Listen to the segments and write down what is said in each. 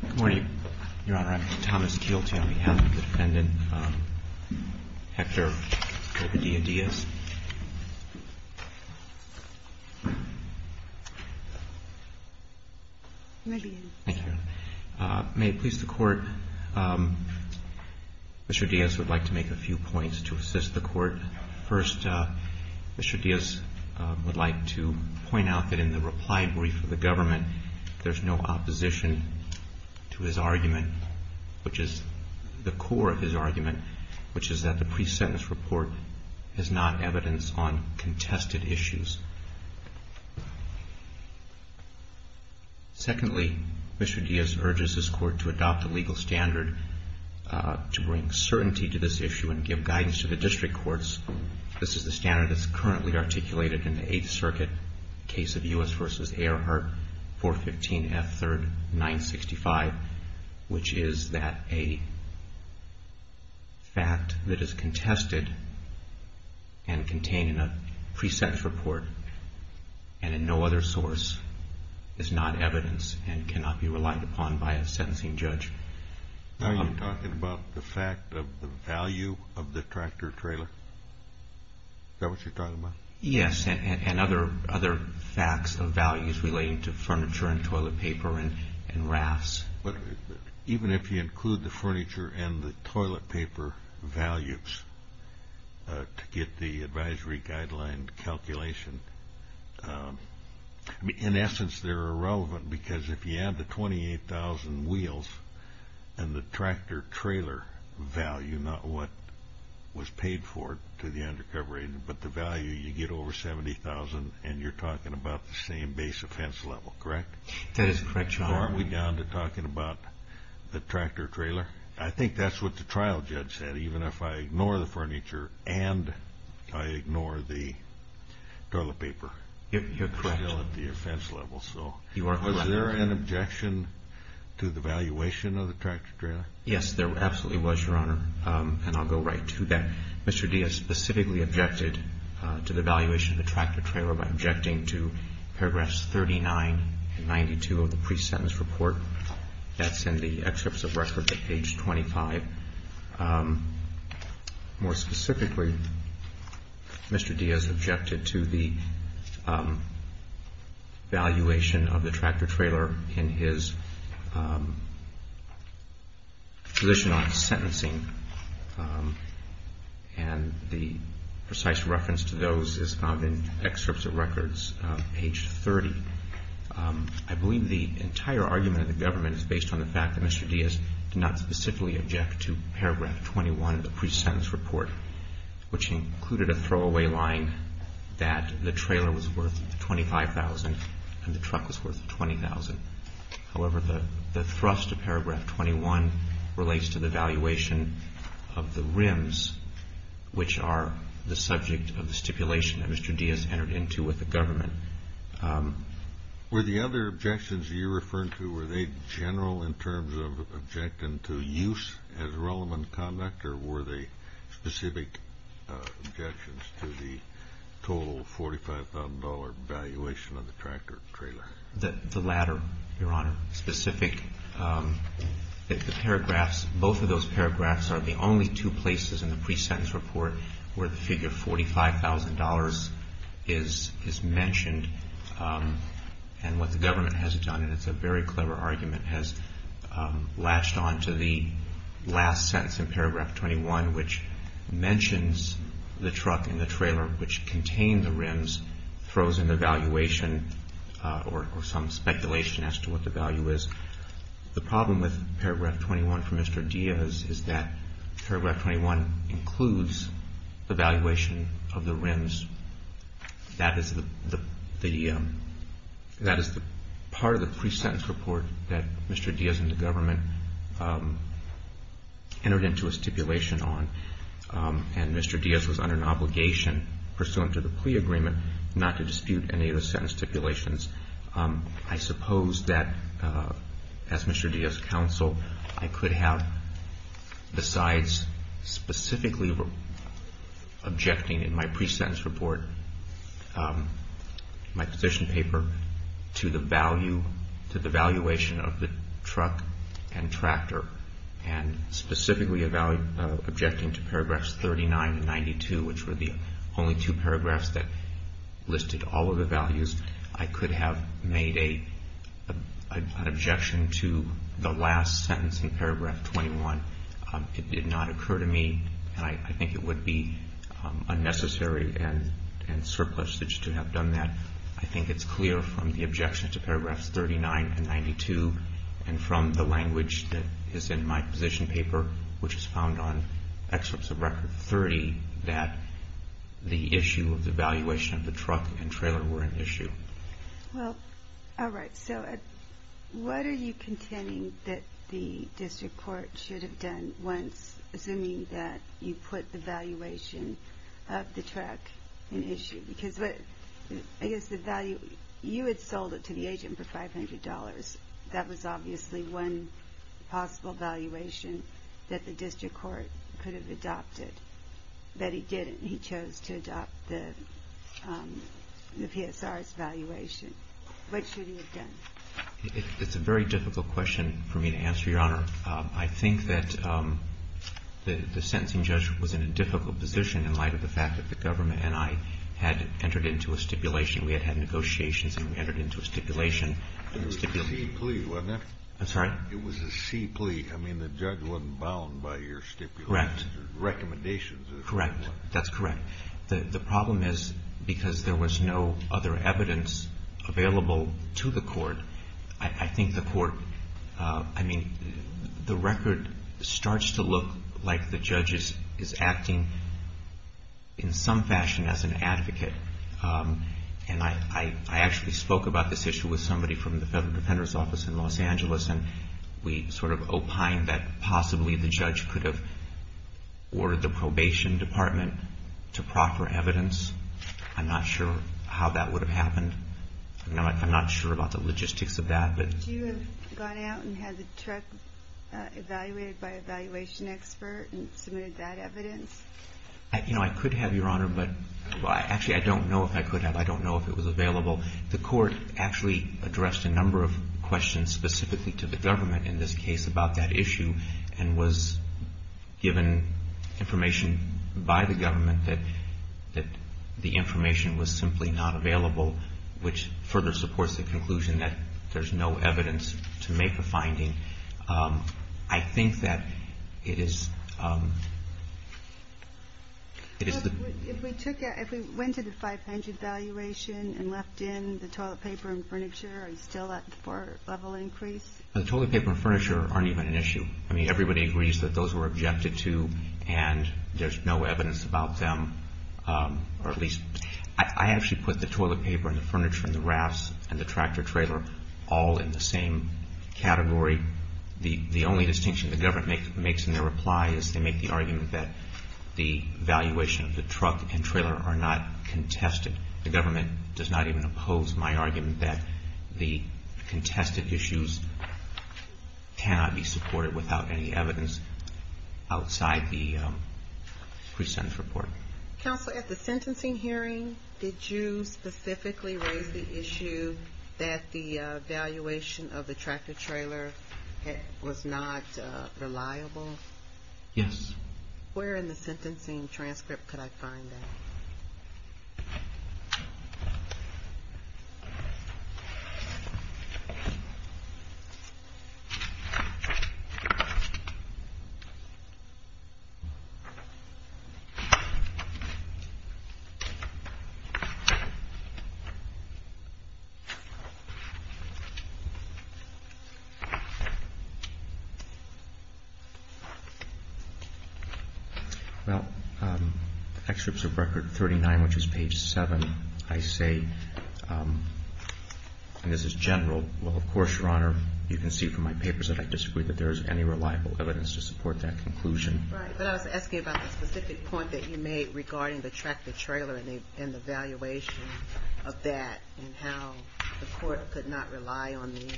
Good morning, Your Honor. I'm Thomas Kielty on behalf of the defendant, Hector Ovidia Diaz. May it please the Court, Mr. Diaz would like to make a few points to assist the Court. First, Mr. Diaz would like to point out that in the reply brief of the government, there's no opposition to his argument, which is the core of his argument, which is that the pre-sentence report is not evidence on contested issues. Secondly, Mr. Diaz urges his Court to adopt a legal standard to bring certainty to this issue and give guidance to the district courts. This is the standard that's currently articulated in the Eighth Circuit case of U.S. v. Ayerhart, 415 F. 3rd, 965, which is that a fact that is contested and contained in a pre-sentence report and in no other source is not evidence and cannot be relied upon by a sentencing judge. Are you talking about the fact of the value of the tractor-trailer? Is that what you're talking about? Yes, and other facts of values relating to furniture and toilet paper and rafts. Even if you include the furniture and the toilet paper values to get the advisory guideline calculation, in essence, they're irrelevant because if you add the 28,000 wheels and the tractor-trailer value, not what was paid for to the undercover agent, but the value, you get over 70,000 and you're talking about the same base offense level, correct? That is correct, Your Honor. So aren't we down to talking about the tractor-trailer? I think that's what the trial judge said, even if I ignore the furniture and I ignore the toilet paper. You're correct. It's still at the offense level, so was there an objection to the valuation of the tractor-trailer? Yes, there absolutely was, Your Honor, and I'll go right to that. Mr. Diaz specifically objected to the valuation of the tractor-trailer by objecting to paragraphs 39 and 92 of the pre-sentence report. That's in the excerpts of records at page 25. More specifically, Mr. Diaz objected to the valuation of the tractor-trailer in his position on sentencing, and the precise reference to those is found in excerpts of records, page 30. I believe the entire argument of the government is based on the fact that Mr. Diaz did not specifically object to paragraph 21 of the pre-sentence report, which included a throwaway line that the trailer was worth 25,000 and the truck was worth 20,000. However, the thrust of paragraph 21 relates to the valuation of the rims, which are the subject of the stipulation that Mr. Diaz entered into with the government. Were the other objections you're referring to, were they general in terms of objecting to use as relevant conduct, or were they specific objections to the total $45,000 valuation of the tractor-trailer? The latter, Your Honor, specific. The paragraphs, both of those paragraphs are the only two places in the pre-sentence report where the figure $45,000 is mentioned. And what the government has done, and it's a very clever argument, has latched on to the last sentence in paragraph 21, which mentions the truck and the trailer, which contain the rims, throws in the valuation or some speculation as to what the value is. The problem with paragraph 21 for Mr. Diaz is that paragraph 21 includes the valuation of the rims. That is the part of the pre-sentence report that Mr. Diaz and the government entered into a stipulation on. And Mr. Diaz was under an obligation pursuant to the plea agreement not to dispute any of the sentence stipulations. I suppose that, as Mr. Diaz's counsel, I could have, besides specifically objecting in my pre-sentence report, my petition paper, to the value, to the valuation of the truck and tractor, and specifically objecting to paragraphs 39 and 92, which were the only two paragraphs that listed all of the values, I could have made an objection to the last sentence in paragraph 21. It did not occur to me, and I think it would be unnecessary and surplus to have done that. I think it's clear from the objection to paragraphs 39 and 92, and from the language that is in my petition paper, which is found on excerpts of Record 30, that the issue of the valuation of the truck and trailer were an issue. Well, all right. So what are you contending that the district court should have done once, assuming that you put the valuation of the truck in issue? Because I guess the value, you had sold it to the agent for $500. That was obviously one possible valuation that the district court could have adopted. But he didn't. He chose to adopt the PSR's valuation. What should he have done? It's a very difficult question for me to answer, Your Honor. I think that the sentencing judge was in a difficult position in light of the fact that the government and I had entered into a stipulation. We had had negotiations, and we entered into a stipulation. It was a C plea, wasn't it? I'm sorry? It was a C plea. I mean, the judge wasn't bound by your stipulation. Correct. That's correct. The problem is, because there was no other evidence available to the court, I think the court, I mean, the record starts to look like the judge is acting in some fashion as an advocate. And I actually spoke about this issue with somebody from the Federal Defender's Office in Los Angeles, and we sort of opined that possibly the judge could have ordered the probation department to proffer evidence. I'm not sure how that would have happened. I'm not sure about the logistics of that. Do you have gone out and had the truck evaluated by a valuation expert and submitted that evidence? You know, I could have, Your Honor, but actually I don't know if I could have. I don't know if it was available. The court actually addressed a number of questions specifically to the government in this case about that issue and was given information by the government that the information was simply not available, which further supports the conclusion that there's no evidence to make a finding. I think that it is... If we went to the 500 valuation and left in the toilet paper and furniture, are you still at the four-level increase? The toilet paper and furniture aren't even an issue. I mean, everybody agrees that those were objected to, and there's no evidence about them, or at least... I actually put the toilet paper and the furniture and the rafts and the tractor-trailer all in the same category. The only distinction the government makes in their reply is they make the argument that the valuation of the truck and trailer are not contested. The government does not even oppose my argument that the contested issues cannot be supported without any evidence outside the pre-sentence report. Counsel, at the sentencing hearing, did you specifically raise the issue that the valuation of the tractor-trailer was not reliable? Yes. Where in the sentencing transcript could I find that? Well, Excerpts of Record 39, which is page 7, I say, and this is general, well, of course, Your Honor, you can see from my papers that I disagree that there is any reliable evidence to support that conclusion. Right, but I was asking about the specific point that you made regarding the tractor-trailer and the valuation of that and how the court could not rely on the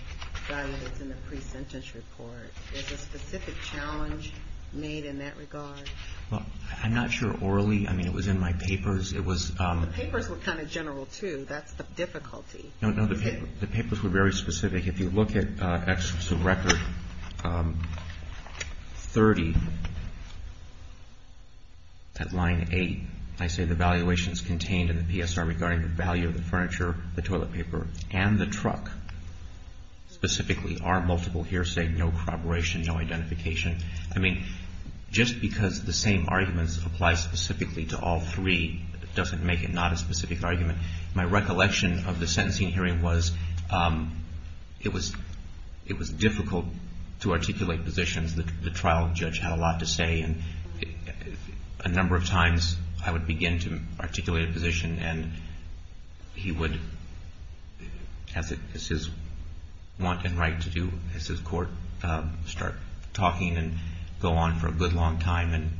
value that's in the pre-sentence report. Is a specific challenge made in that regard? Well, I'm not sure orally. I mean, it was in my papers. It was... The papers were kind of general, too. That's the difficulty. No, no, the papers were very specific. If you look at Excerpts of Record 30, at line 8, I say the valuations contained in the PSR regarding the value of the furniture, the toilet paper, and the truck specifically are multiple hearsay, no corroboration, no identification. I mean, just because the same arguments apply specifically to all three doesn't make it not a specific argument. My recollection of the sentencing hearing was it was difficult to articulate positions. The trial judge had a lot to say, and a number of times I would begin to articulate a position, and he would, as his want and right to do as his court, start talking and go on for a good long time. And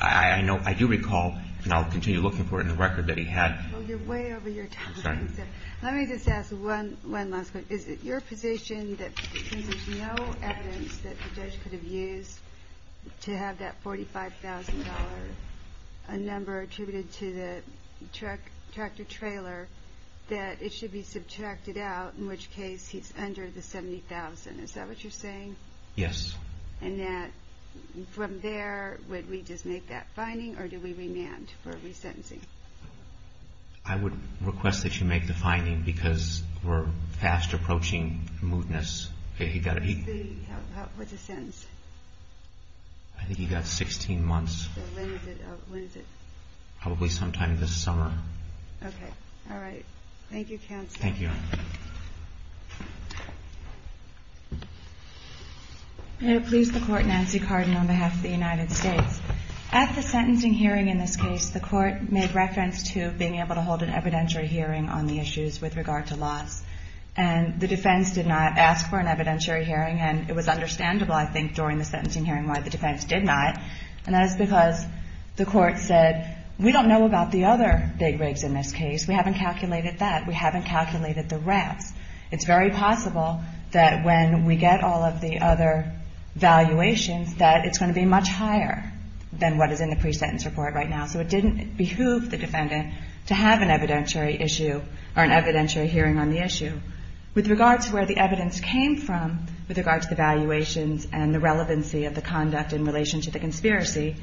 I do recall, and I'll continue looking for it in the record that he had... Let me just ask one last question. Is it your position that since there's no evidence that the judge could have used to have that $45,000, a number attributed to the tractor trailer, that it should be subtracted out, in which case he's under the $70,000? Is that what you're saying? Yes. And that from there, would we just make that finding, or do we remand for resentencing? I would request that you make the finding, because we're fast approaching mootness. What's the sentence? I think he got 16 months. So when is it? Probably sometime this summer. Okay. All right. Thank you, counsel. Thank you. May it please the Court, Nancy Cardin on behalf of the United States. At the sentencing hearing in this case, the Court made reference to being able to hold an evidentiary hearing on the issues with regard to loss. And the defense did not ask for an evidentiary hearing, and it was understandable, I think, during the sentencing hearing why the defense did not. And that is because the Court said, we don't know about the other big rigs in this case. We haven't calculated that. We haven't calculated the wraps. It's very possible that when we get all of the other valuations, that it's going to be much higher than what is in the pre-sentence report right now. So it didn't behoove the defendant to have an evidentiary issue or an evidentiary hearing on the issue. With regard to where the evidence came from, with regard to the valuations and the relevancy of the conduct in relation to the conspiracy,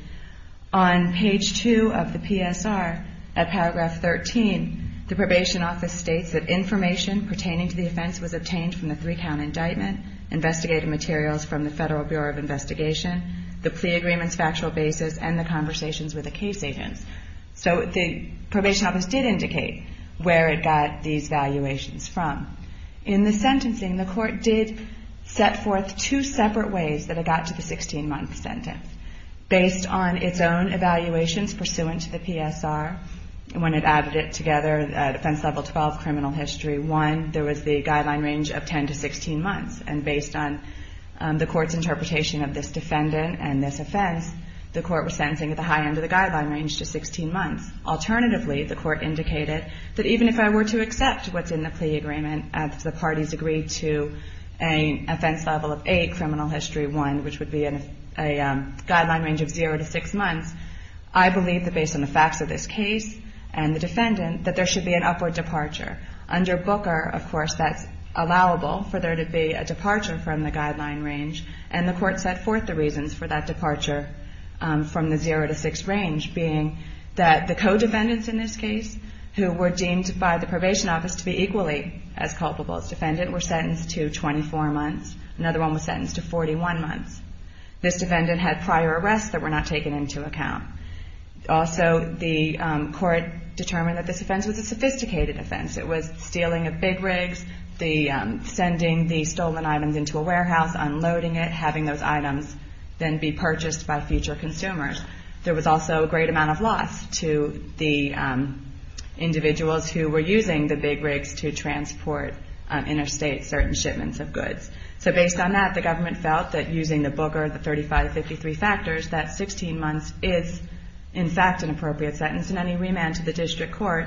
on page two of the PSR, at paragraph 13, the Probation Office states that information pertaining to the offense was obtained from the three-count indictment, investigated materials from the Federal Bureau of Investigation, the plea agreements factual basis, and the conversations with the case agents. So the Probation Office did indicate where it got these valuations from. In the sentencing, the Court did set forth two separate ways that it got to the 16-month sentence. Based on its own evaluations pursuant to the PSR, when it added it together, defense level 12, criminal history one, there was the guideline range of 10 to 16 months. And based on the Court's interpretation of this defendant and this offense, the Court was sentencing at the high end of the guideline range to 16 months. Alternatively, the Court indicated that even if I were to accept what's in the plea agreement, if the parties agreed to an offense level of eight, criminal history one, which would be a guideline range of zero to six months, I believe that based on the facts of this case and the defendant, that there should be an upward departure. Under Booker, of course, that's allowable for there to be a departure from the guideline range. And the Court set forth the reasons for that departure from the zero to six range, being that the co-defendants in this case, who were deemed by the Probation Office to be equally as culpable as defendant, were sentenced to 24 months. Another one was sentenced to 41 months. This defendant had prior arrests that were not taken into account. Also, the Court determined that this offense was a sophisticated offense. It was stealing a Big Rigs, sending the stolen items into a warehouse, unloading it, having those items then be purchased by future consumers. There was also a great amount of loss to the individuals who were using the Big Rigs to transport interstate certain shipments of goods. So based on that, the government felt that using the Booker, the 3553 factors, that 16 months is, in fact, an appropriate sentence. In any remand to the district court,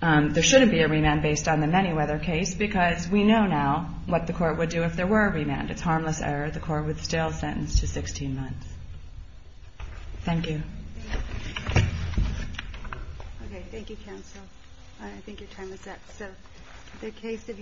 there shouldn't be a remand based on the Manyweather case, because we know now what the Court would do if there were a remand. It's harmless error. The Court would still sentence to 16 months. Thank you. Okay, thank you, counsel. I think your time is up.